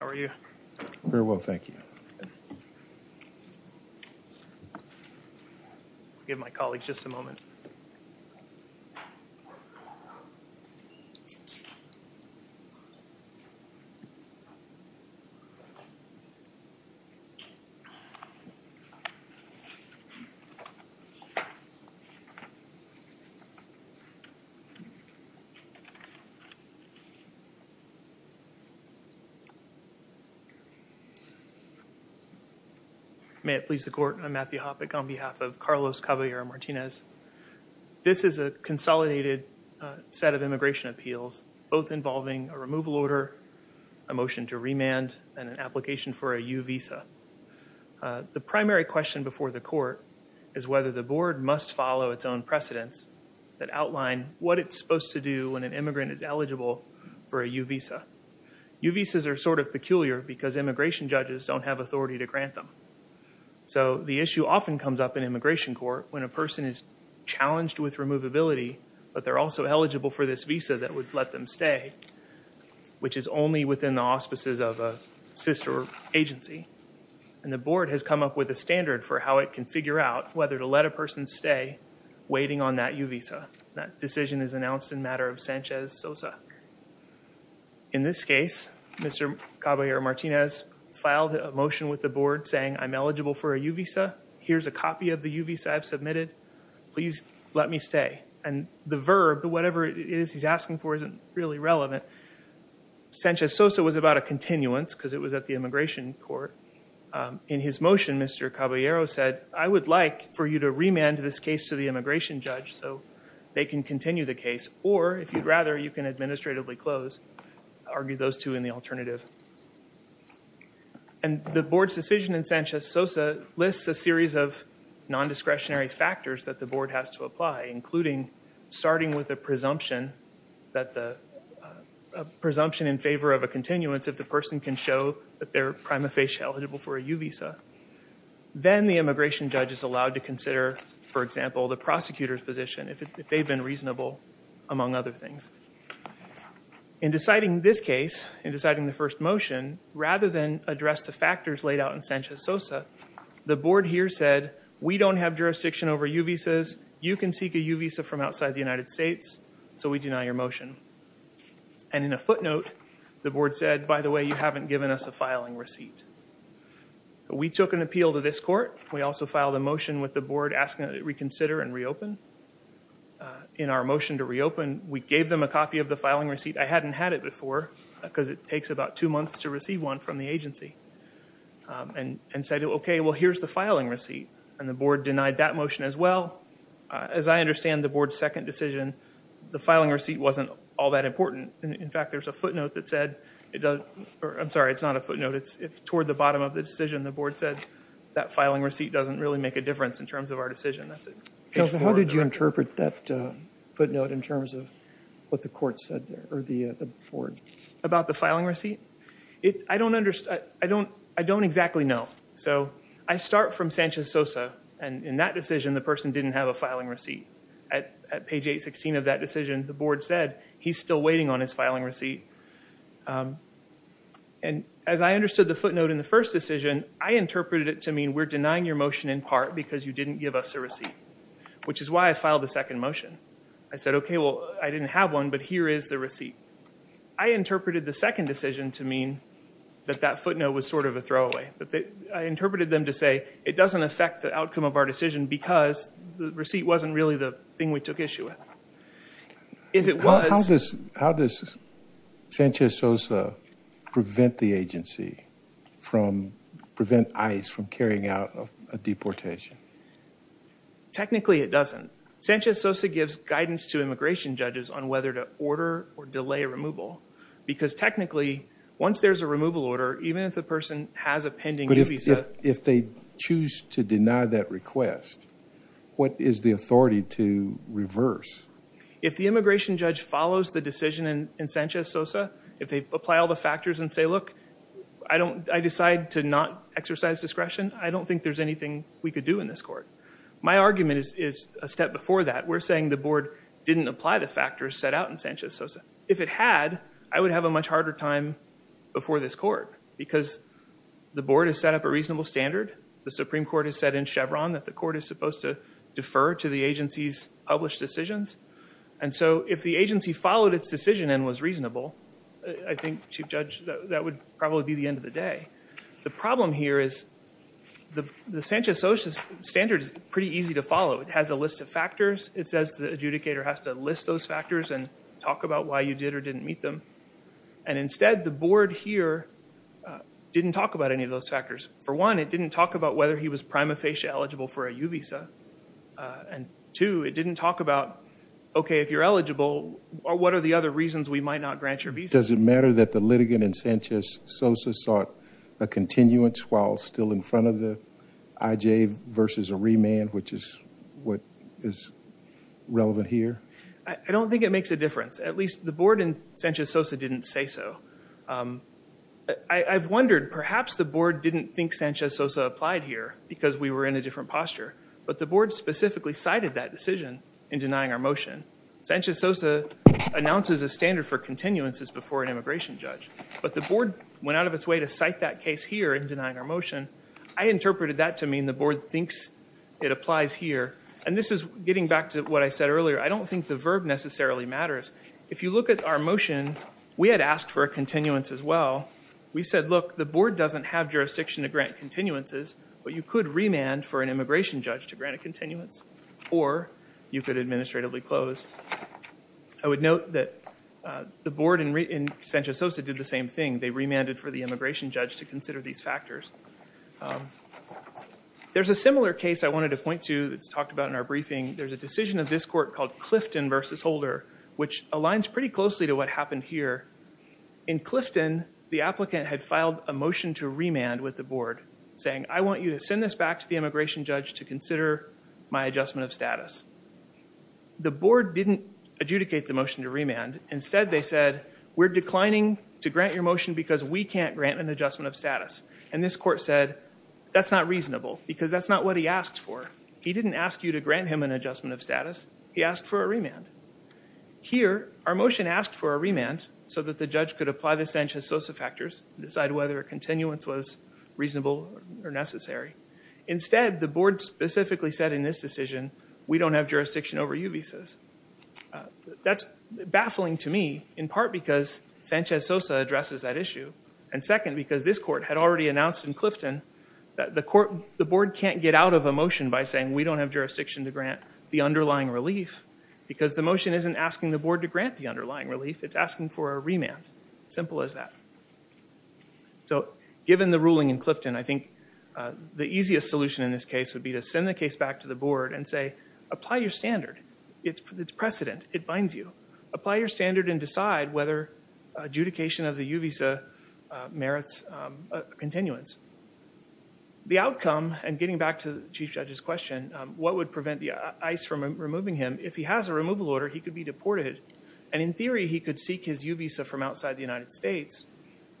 How are you? Very well, thank you. Give my colleagues just a moment. May it please the court, I'm Matthew Hoppeck on behalf of Carlos Caballero-Martinez. This is a consolidated set of immigration appeals, both involving a removal order, a motion to remand, and an application for a U visa. The primary question before the court is whether the board must follow its own precedents that outline what it's supposed to do when an immigrant is eligible for a U visa. U visas are sort of peculiar because immigration judges don't have authority to grant them. So the issue often comes up in immigration court when a person is challenged with removability, but they're also eligible for this visa that would let them stay, which is only within the auspices of a sister agency. And the board has come up with a standard for how it can figure out whether to let a person stay waiting on that U visa. That decision is announced in matter of Sanchez-Sosa. In this case, Mr. Caballero-Martinez filed a motion with the board saying, I'm eligible for a U visa. Here's a copy of the U visa I've submitted. Please let me stay. And the verb, whatever it is he's asking for, isn't really relevant. Sanchez-Sosa was about a continuance because it was at the immigration court. In his motion, Mr. Caballero said, I would like for you to remand this case to the immigration judge. So they can continue the case, or if you'd rather, you can administratively close. Argue those two in the alternative. And the board's decision in Sanchez-Sosa lists a series of non-discretionary factors that the board has to apply, including starting with a presumption in favor of a continuance if the person can show that they're prima facie eligible for a U visa. Then the immigration judge is allowed to consider, for example, the prosecutor's position, if they've been reasonable, among other things. In deciding this case, in deciding the first motion, rather than address the factors laid out in Sanchez-Sosa, the board here said, we don't have jurisdiction over U visas. You can seek a U visa from outside the United States. So we deny your motion. And in a footnote, the board said, by the way, you haven't given us a filing receipt. We took an appeal to this court. We also filed a motion with the board asking that it reconsider and reopen. In our motion to reopen, we gave them a copy of the filing receipt. I hadn't had it before, because it takes about two months to receive one from the agency. And said, okay, well, here's the filing receipt. And the board denied that motion as well. As I understand the board's second decision, the filing receipt wasn't all that important. In fact, there's a footnote that said, I'm sorry, it's not a footnote. It's toward the bottom of the decision. The board said, that filing receipt doesn't really make a difference in terms of our decision. How did you interpret that footnote in terms of what the court said, or the board? About the filing receipt? I don't exactly know. So I start from Sanchez-Sosa. And in that decision, the person didn't have a filing receipt. At page 816 of that decision, the board said, he's still waiting on his filing receipt. And as I understood the footnote in the first decision, I interpreted it to mean, we're denying your motion in part because you didn't give us a receipt. Which is why I filed a second motion. I said, okay, well, I didn't have one, but here is the receipt. I interpreted the second decision to mean that that footnote was sort of a throwaway. I interpreted them to say, it doesn't affect the outcome of our decision because the receipt wasn't really the thing we took issue with. How does Sanchez-Sosa prevent ICE from carrying out a deportation? Technically, it doesn't. Sanchez-Sosa gives guidance to immigration judges on whether to order or delay removal. Because technically, once there's a removal order, even if the person has a pending visa... But if they choose to deny that request, what is the authority to reverse? If the immigration judge follows the decision in Sanchez-Sosa, if they apply all the factors and say, look, I decide to not exercise discretion, I don't think there's anything we could do in this court. My argument is a step before that. We're saying the board didn't apply the factors set out in Sanchez-Sosa. If it had, I would have a much harder time before this court because the board has set up a reasonable standard. The Supreme Court has said in Chevron that the court is supposed to defer to the agency's published decisions. And so if the agency followed its decision and was reasonable, I think, Chief Judge, that would probably be the end of the day. The problem here is the Sanchez-Sosa standard is pretty easy to follow. It has a list of factors. It says the adjudicator has to list those factors and talk about why you did or didn't meet them. And instead, the board here didn't talk about any of those factors. For one, it didn't talk about whether he was prima facie eligible for a U visa. And two, it didn't talk about, OK, if you're eligible, what are the other reasons we might not grant your visa? Does it matter that the litigant in Sanchez-Sosa sought a continuance while still in front of the IJ versus a remand, which is what is relevant here? I don't think it makes a difference. At least the board in Sanchez-Sosa didn't say so. I've wondered, perhaps the board didn't think Sanchez-Sosa applied here because we were in a different posture. But the board specifically cited that decision in denying our motion. Sanchez-Sosa announces a standard for continuances before an immigration judge. But the board went out of its way to cite that case here in denying our motion. I interpreted that to mean the board thinks it applies here. And this is getting back to what I said earlier. I don't think the verb necessarily matters. If you look at our motion, we had asked for a continuance as well. We said, look, the board doesn't have jurisdiction to grant continuances, but you could remand for an immigration judge to grant a continuance, or you could administratively close. I would note that the board in Sanchez-Sosa did the same thing. They remanded for the immigration judge to consider these factors. There's a similar case I wanted to point to that's talked about in our briefing. There's a decision of this court called Clifton v. Holder, which aligns pretty closely to what happened here. In Clifton, the applicant had filed a motion to remand with the board, saying, I want you to send this back to the immigration judge to consider my adjustment of status. Instead, they said, we're declining to grant your motion because we can't grant an adjustment of status. And this court said, that's not reasonable, because that's not what he asked for. He didn't ask you to grant him an adjustment of status. He asked for a remand. Here, our motion asked for a remand so that the judge could apply the Sanchez-Sosa factors and decide whether a continuance was reasonable or necessary. Instead, the board specifically said in this decision, we don't have jurisdiction over U visas. That's baffling to me, in part because Sanchez-Sosa addresses that issue, and second, because this court had already announced in Clifton that the board can't get out of a motion by saying, we don't have jurisdiction to grant the underlying relief, because the motion isn't asking the board to grant the underlying relief. It's asking for a remand. Simple as that. So, given the ruling in Clifton, I think the easiest solution in this case would be to send the case back to the board and say, apply your standard. It's precedent. It binds you. Apply your standard and decide whether adjudication of the U visa merits continuance. The outcome, and getting back to the Chief Judge's question, what would prevent ICE from removing him, if he has a removal order, he could be deported, and in theory, he could seek his U visa from outside the United States,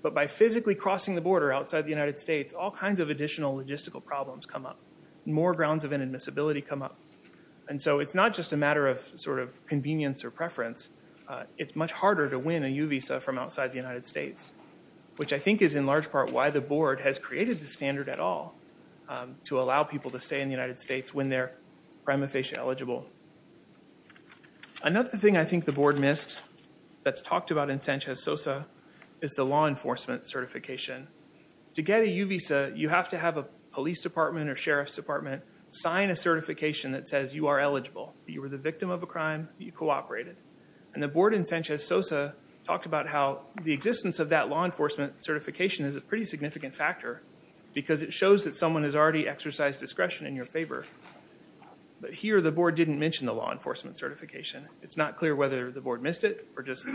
but by physically crossing the border outside the United States, all kinds of additional logistical problems come up, more grounds of inadmissibility come up, and so it's not just a matter of sort of convenience or preference. It's much harder to win a U visa from outside the United States, which I think is in large part why the board has created the standard at all, to allow people to stay in the United States when they're prima facie eligible. Another thing I think the board missed, that's talked about in Sanchez-Sosa, is the law enforcement certification. To get a U visa, you have to have a police department or sheriff's department sign a certification that says you are eligible. You were the victim of a crime. You cooperated. And the board in Sanchez-Sosa talked about how the existence of that law enforcement certification is a pretty significant factor, because it shows that someone has already exercised discretion in your favor, but here the board didn't mention the law enforcement certification. It's not clear whether the board missed it or just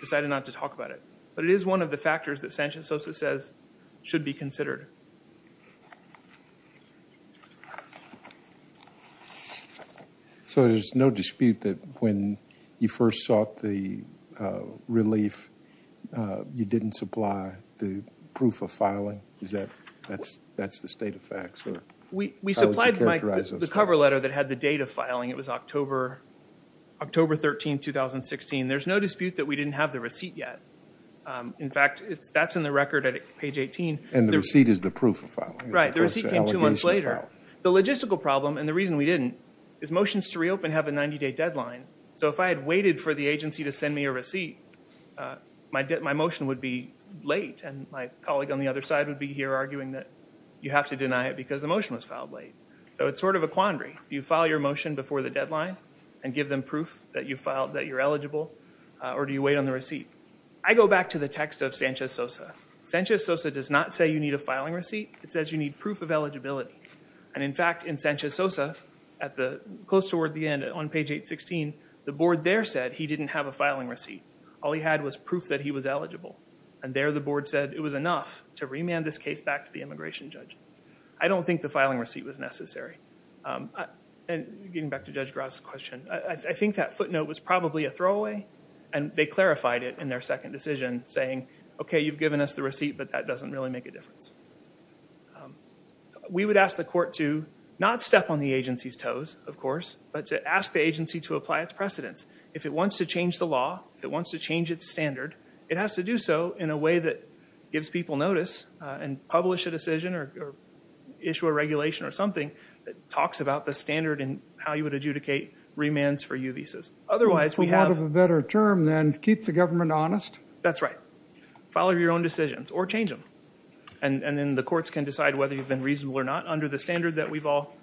decided not to talk about it, but it is one of the factors that Sanchez-Sosa says should be considered. So there's no dispute that when you first sought the relief, you didn't supply the proof of filing? Is that the state of facts? We supplied the cover letter that had the date of filing. It was October 13, 2016. There's no dispute that we didn't have the receipt yet. In fact, that's in the record at page 18. And the receipt is the proof of filing? Right. The receipt came two months later. The logistical problem, and the reason we didn't, is motions to reopen have a 90-day deadline. So if I had waited for the agency to send me a receipt, my motion would be late, and my colleague on the other side would be here arguing that you have to deny it because the motion was filed late. So it's sort of a quandary. Do you file your motion before the deadline and give them proof that you're eligible, or do you wait on the receipt? I go back to the text of Sanchez-Sosa. Sanchez-Sosa does not say you need a filing receipt. It says you need proof of eligibility. And, in fact, in Sanchez-Sosa, close toward the end on page 816, the board there said he didn't have a filing receipt. All he had was proof that he was eligible. And there the board said it was enough to remand this case back to the immigration judge. I don't think the filing receipt was necessary. And getting back to Judge Gras's question, I think that footnote was probably a throwaway, and they clarified it in their second decision, saying, okay, you've given us the receipt, but that doesn't really make a difference. We would ask the court to not step on the agency's toes, of course, but to ask the agency to apply its precedents. If it wants to change the law, if it wants to change its standard, it has to do so in a way that gives people notice and publish a decision or issue a regulation or something that talks about the standard and how you would adjudicate remands for U visas. Otherwise, we have- It's a lot of a better term than keep the government honest. That's right. Follow your own decisions or change them, and then the courts can decide whether you've been reasonable or not under the standard that we've all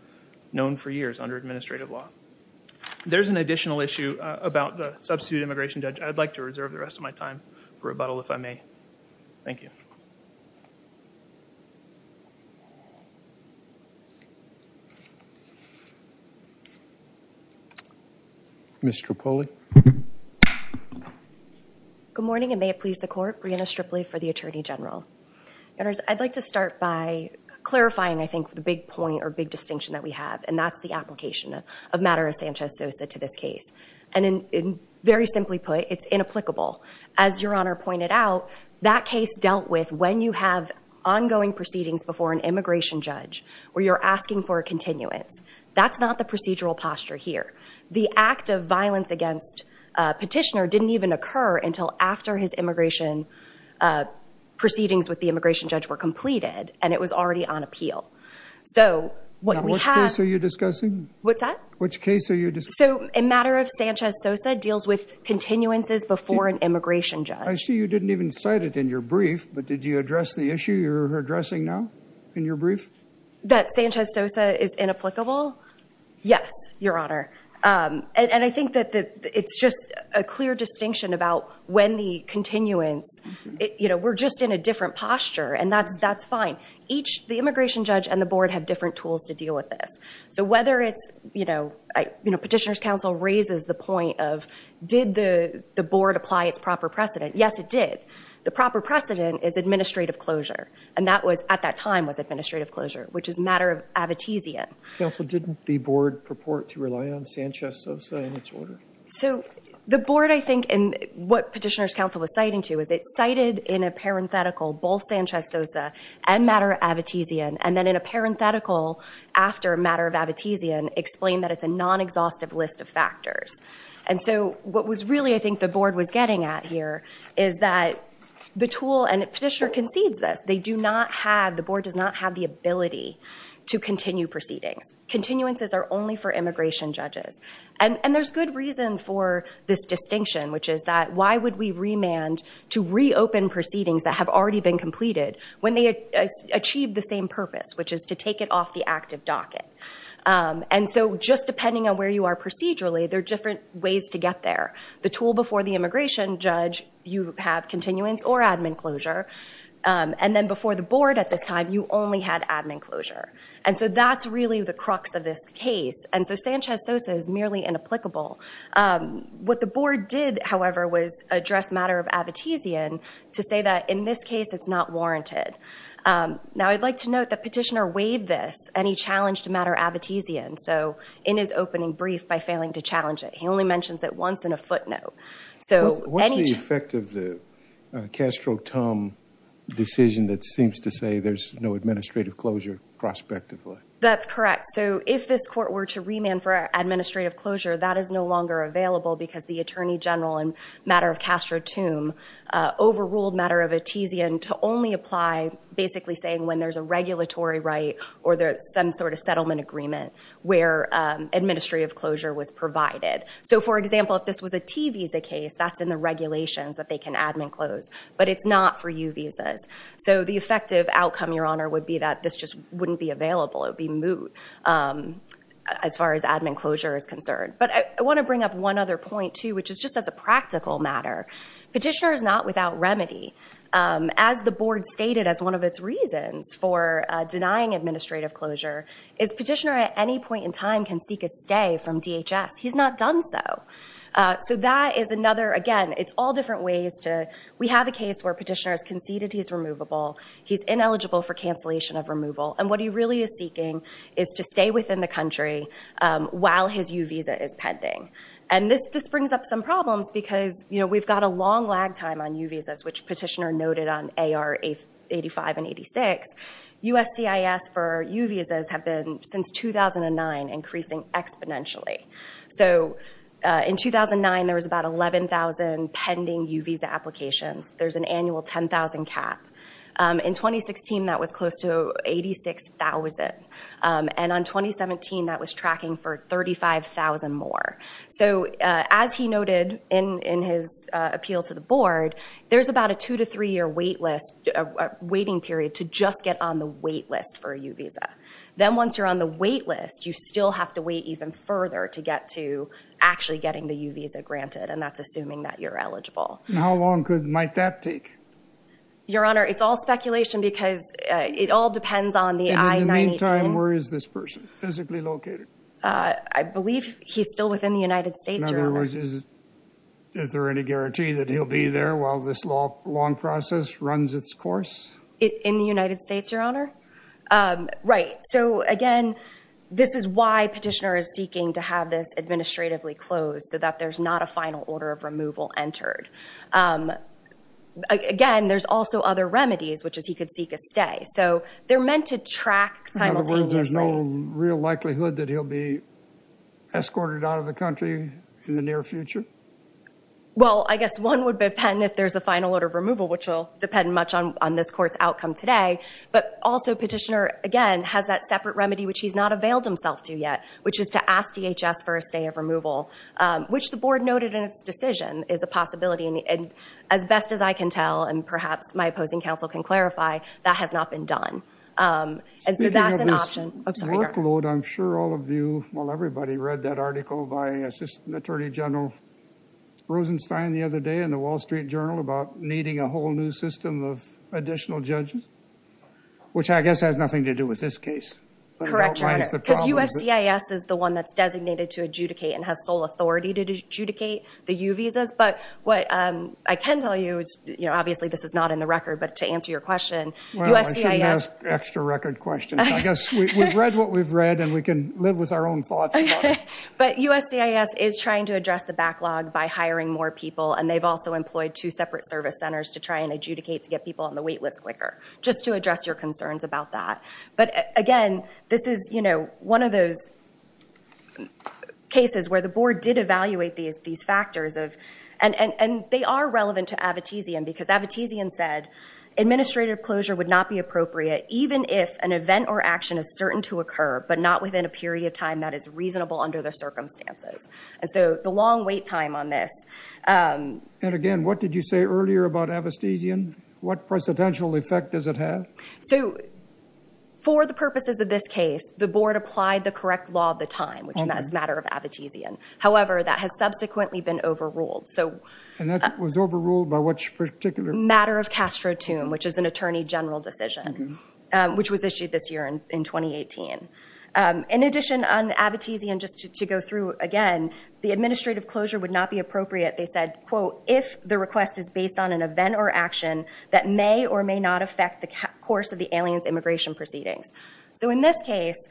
known for years under administrative law. There's an additional issue about the substitute immigration judge. I'd like to reserve the rest of my time for rebuttal if I may. Thank you. Ms. Strapoli. Good morning, and may it please the court. Brianna Strapoli for the Attorney General. I'd like to start by clarifying, I think, the big point or big distinction that we have, and that's the application of matter of Sanchez-Sosa to this case. And very simply put, it's inapplicable. As Your Honor pointed out, that case dealt with when you have ongoing proceedings before an immigration judge where you're asking for a continuance. That's not the procedural posture here. The act of violence against petitioner didn't even occur until after his immigration proceedings with the immigration judge were completed, and it was already on appeal. So what we have- Which case are you discussing? What's that? Which case are you discussing? So a matter of Sanchez-Sosa deals with continuances before an immigration judge. I see you didn't even cite it in your brief, but did you address the issue you're addressing now in your brief? That Sanchez-Sosa is inapplicable? Yes, Your Honor. And I think that it's just a clear distinction about when the continuance- We're just in a different posture, and that's fine. The immigration judge and the board have different tools to deal with this. So whether it's- Petitioner's counsel raises the point of did the board apply its proper precedent? Yes, it did. The proper precedent is administrative closure, and that at that time was administrative closure, which is a matter of abetezian. Counsel, didn't the board purport to rely on Sanchez-Sosa in its order? So the board, I think, and what Petitioner's counsel was citing to, is it cited in a parenthetical both Sanchez-Sosa and matter of abetezian, and then in a parenthetical after matter of abetezian, explain that it's a non-exhaustive list of factors. And so what was really, I think, the board was getting at here is that the tool- And Petitioner concedes this. They do not have- The board does not have the ability to continue proceedings. Continuances are only for immigration judges. And there's good reason for this distinction, which is that why would we remand to reopen proceedings that have already been completed when they achieve the same purpose, which is to take it off the active docket? And so just depending on where you are procedurally, there are different ways to get there. The tool before the immigration judge, you have continuance or admin closure. And then before the board at this time, you only had admin closure. And so that's really the crux of this case. And so Sanchez-Sosa is merely inapplicable. What the board did, however, was address matter of abetezian to say that in this case, it's not warranted. Now, I'd like to note that Petitioner waived this, and he challenged matter abetezian. So in his opening brief, by failing to challenge it, he only mentions it once in a footnote. So- What's the effect of the Castro-Tum decision that seems to say there's no administrative closure prospectively? That's correct. So if this court were to remand for administrative closure, that is no longer available because the attorney general in matter of Castro-Tum overruled matter abetezian to only apply basically saying when there's a regulatory right or some sort of settlement agreement where administrative closure was provided. So, for example, if this was a T visa case, that's in the regulations that they can admin close. But it's not for U visas. So the effective outcome, Your Honor, would be that this just wouldn't be available. It would be moot as far as admin closure is concerned. But I want to bring up one other point, too, which is just as a practical matter. Petitioner is not without remedy. As the board stated as one of its reasons for denying administrative closure, is Petitioner at any point in time can seek a stay from DHS. He's not done so. So that is another, again, it's all different ways to- We have a case where Petitioner has conceded he's removable. He's ineligible for cancellation of removal. And what he really is seeking is to stay within the country while his U visa is pending. And this brings up some problems because, you know, we've got a long lag time on U visas, which Petitioner noted on AR 85 and 86. USCIS for U visas have been, since 2009, increasing exponentially. So in 2009 there was about 11,000 pending U visa applications. There's an annual 10,000 cap. In 2016 that was close to 86,000. And on 2017 that was tracking for 35,000 more. So as he noted in his appeal to the board, there's about a two to three-year waiting period to just get on the wait list for a U visa. Then once you're on the wait list, you still have to wait even further to get to actually getting the U visa granted, and that's assuming that you're eligible. How long might that take? Your Honor, it's all speculation because it all depends on the I-918. And in the meantime, where is this person physically located? I believe he's still within the United States, Your Honor. In other words, is there any guarantee that he'll be there while this long process runs its course? In the United States, Your Honor? Right. So, again, this is why Petitioner is seeking to have this administratively closed so that there's not a final order of removal entered. Again, there's also other remedies, which is he could seek a stay. So they're meant to track simultaneously. In other words, there's no real likelihood that he'll be escorted out of the country in the near future? Well, I guess one would depend if there's a final order of removal, which will depend much on this court's outcome today. But also Petitioner, again, has that separate remedy, which he's not availed himself to yet, which is to ask DHS for a stay of removal, which the board noted in its decision is a possibility. And as best as I can tell, and perhaps my opposing counsel can clarify, that has not been done. And so that's an option. Speaking of this workload, I'm sure all of you, well, everybody read that article by Assistant Attorney General Rosenstein the other day in the Wall Street Journal about needing a whole new system of additional judges, which I guess has nothing to do with this case. Correct, Your Honor. Because USCIS is the one that's designated to adjudicate and has sole authority to adjudicate the U visas. But what I can tell you, obviously this is not in the record, but to answer your question, USCIS- Well, I shouldn't ask extra record questions. I guess we've read what we've read, and we can live with our own thoughts about it. But USCIS is trying to address the backlog by hiring more people, and they've also employed two separate service centers to try and adjudicate to get people on the wait list quicker, just to address your concerns about that. But, again, this is, you know, one of those cases where the board did evaluate these factors. And they are relevant to Avitesian, because Avitesian said administrative closure would not be appropriate even if an event or action is certain to occur, but not within a period of time that is reasonable under the circumstances. And so the long wait time on this- And again, what did you say earlier about Avitesian? What precedential effect does it have? So, for the purposes of this case, the board applied the correct law of the time, which is a matter of Avitesian. However, that has subsequently been overruled. And that was overruled by which particular- Matter of Castro-Toome, which is an attorney general decision, which was issued this year in 2018. In addition, on Avitesian, just to go through again, the administrative closure would not be appropriate. They said, quote, if the request is based on an event or action that may or may not affect the course of the alien's immigration proceedings. So, in this case,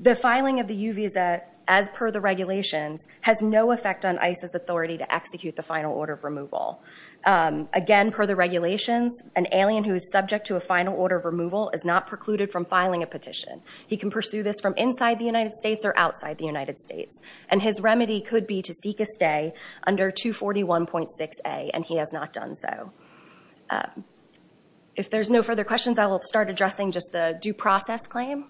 the filing of the U visa, as per the regulations, has no effect on ISIS authority to execute the final order of removal. Again, per the regulations, an alien who is subject to a final order of removal is not precluded from filing a petition. He can pursue this from inside the United States or outside the United States. And his remedy could be to seek a stay under 241.6a, and he has not done so. If there's no further questions, I will start addressing just the due process claim.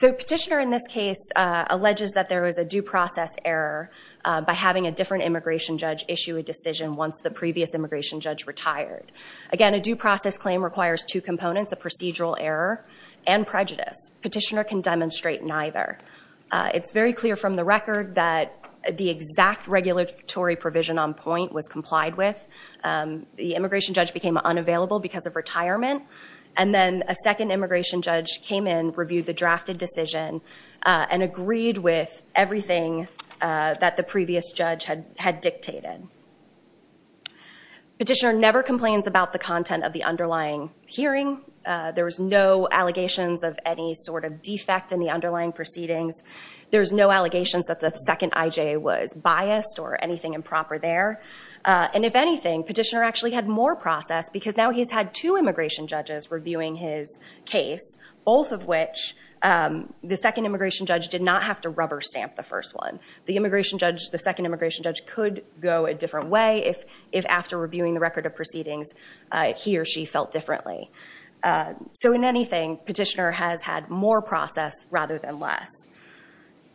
So, petitioner in this case alleges that there was a due process error by having a different immigration judge issue a decision once the previous immigration judge retired. Again, a due process claim requires two components, a procedural error and prejudice. Petitioner can demonstrate neither. It's very clear from the record that the exact regulatory provision on point was complied with. The immigration judge became unavailable because of retirement. And then a second immigration judge came in, reviewed the drafted decision, and agreed with everything that the previous judge had dictated. Petitioner never complains about the content of the underlying hearing. There was no allegations of any sort of defect in the underlying proceedings. There's no allegations that the second IJA was biased or anything improper there. And if anything, petitioner actually had more process because now he's had two immigration judges reviewing his case, both of which the second immigration judge did not have to rubber stamp the first one. The second immigration judge could go a different way if after reviewing the record of proceedings he or she felt differently. So in anything, petitioner has had more process rather than less.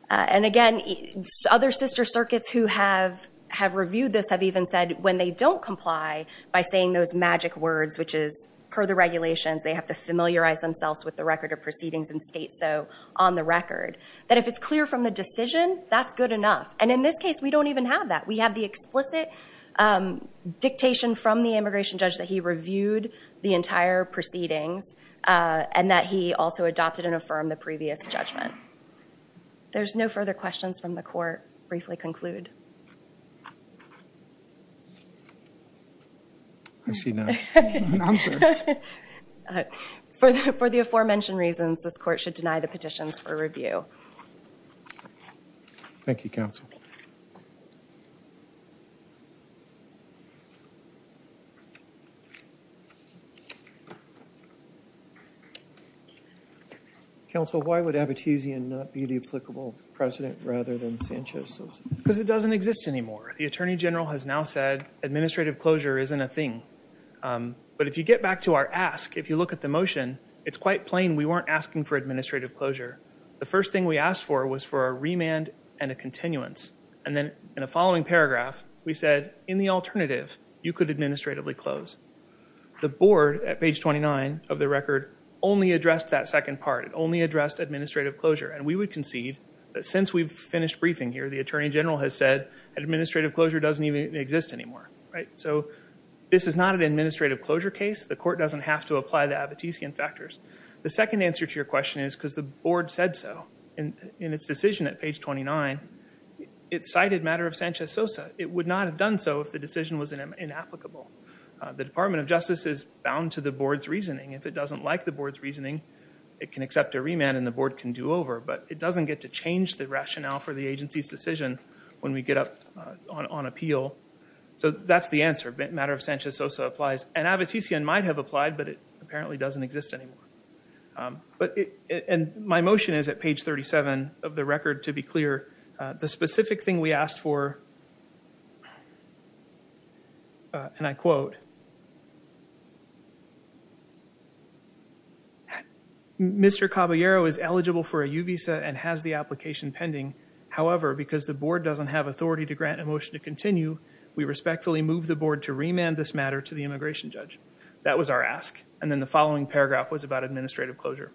And again, other sister circuits who have reviewed this have even said when they don't comply by saying those magic words, which is per the regulations, they have to familiarize themselves with the record of proceedings and state so on the record, that if it's clear from the decision, that's good enough. And in this case, we don't even have that. We have the explicit dictation from the immigration judge that he reviewed the entire proceedings and that he also adopted and affirmed the previous judgment. There's no further questions from the court. Briefly conclude. I see none. I'm sorry. For the aforementioned reasons, this court should deny the petitions for review. Thank you, counsel. Counsel, why would Abitizian not be the applicable president rather than Sanchez? Because it doesn't exist anymore. The attorney general has now said administrative closure isn't a thing. But if you get back to our ask, if you look at the motion, it's quite plain. We weren't asking for administrative closure. The first thing we asked for was for a remand and a continuance. And then in the following paragraph, we said, in the alternative, you could administratively close. The board, at page 29 of the record, only addressed that second part. It only addressed administrative closure. And we would concede that since we've finished briefing here, the attorney general has said administrative closure doesn't even exist anymore. So this is not an administrative closure case. The court doesn't have to apply the Abitizian factors. The second answer to your question is because the board said so in its decision at page 29. It cited matter of Sanchez-Sosa. It would not have done so if the decision was inapplicable. The Department of Justice is bound to the board's reasoning. If it doesn't like the board's reasoning, it can accept a remand and the board can do over. But it doesn't get to change the rationale for the agency's decision when we get up on appeal. So that's the answer. Matter of Sanchez-Sosa applies. And Abitizian might have applied, but it apparently doesn't exist anymore. And my motion is at page 37 of the record, to be clear. The specific thing we asked for, and I quote, Mr. Caballero is eligible for a U visa and has the application pending. However, because the board doesn't have authority to grant a motion to continue, we respectfully move the board to remand this matter to the immigration judge. That was our ask. And then the following paragraph was about administrative closure.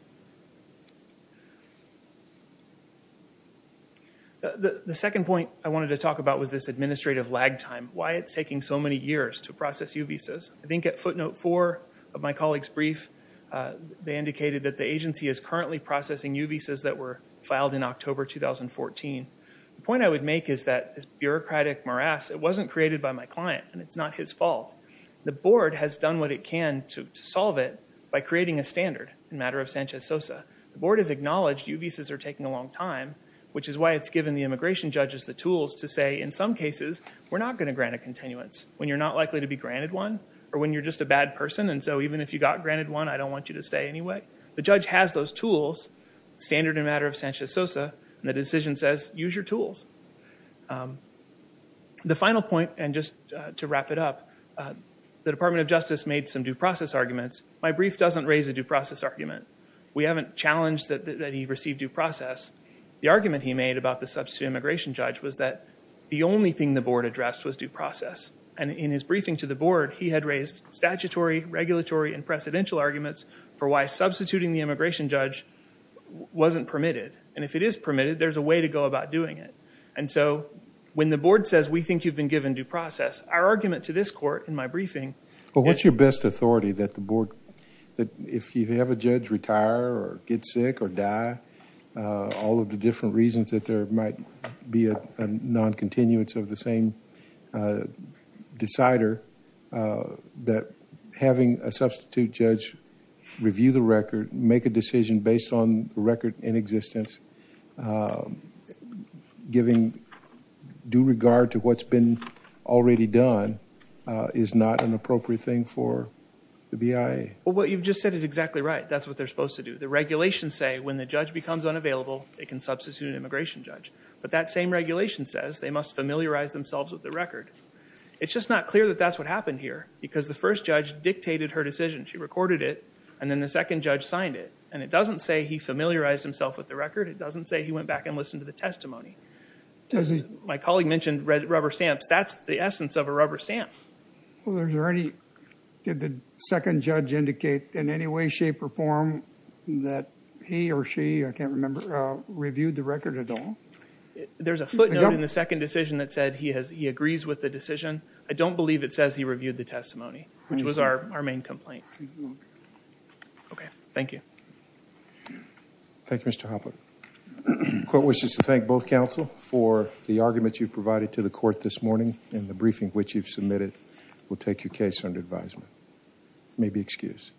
The second point I wanted to talk about was this administrative lag time, why it's taking so many years to process U visas. I think at footnote four of my colleague's brief, they indicated that the agency is currently processing U visas that were filed in October 2014. The point I would make is that this bureaucratic morass, it wasn't created by my client, and it's not his fault. The board has done what it can to solve it by creating a standard in Matter of Sanchez-Sosa. The board has acknowledged U visas are taking a long time, which is why it's given the immigration judges the tools to say, in some cases, we're not going to grant a continuance when you're not likely to be granted one, or when you're just a bad person, and so even if you got granted one, I don't want you to stay anyway. The judge has those tools, standard in Matter of Sanchez-Sosa, and the decision says use your tools. The final point, and just to wrap it up, the Department of Justice made some due process arguments. My brief doesn't raise a due process argument. We haven't challenged that he received due process. The argument he made about the substitute immigration judge was that the only thing the board addressed was due process, and in his briefing to the board, he had raised statutory, regulatory, and precedential arguments for why substituting the immigration judge wasn't permitted, and if it is permitted, there's a way to go about doing it, and so when the board says, we think you've been given due process, our argument to this court in my briefing. Well, what's your best authority that the board, that if you have a judge retire or get sick or die, all of the different reasons that there might be a non-continuance of the same decider, that having a substitute judge review the record, make a decision based on the record in existence, giving due regard to what's been already done, is not an appropriate thing for the BIA? Well, what you've just said is exactly right. That's what they're supposed to do. The regulations say when the judge becomes unavailable, they can substitute an immigration judge, but that same regulation says they must familiarize themselves with the record. It's just not clear that that's what happened here because the first judge dictated her decision. She recorded it, and then the second judge signed it, and it doesn't say he familiarized himself with the record. It doesn't say he went back and listened to the testimony. My colleague mentioned rubber stamps. That's the essence of a rubber stamp. Did the second judge indicate in any way, shape, or form that he or she, I can't remember, reviewed the record at all? There's a footnote in the second decision that said he agrees with the decision. I don't believe it says he reviewed the testimony, which was our main complaint. Okay. Thank you. Thank you, Mr. Hopler. The court wishes to thank both counsel for the argument you provided to the court this morning, and the briefing which you've submitted will take your case under advisement. You may be excused.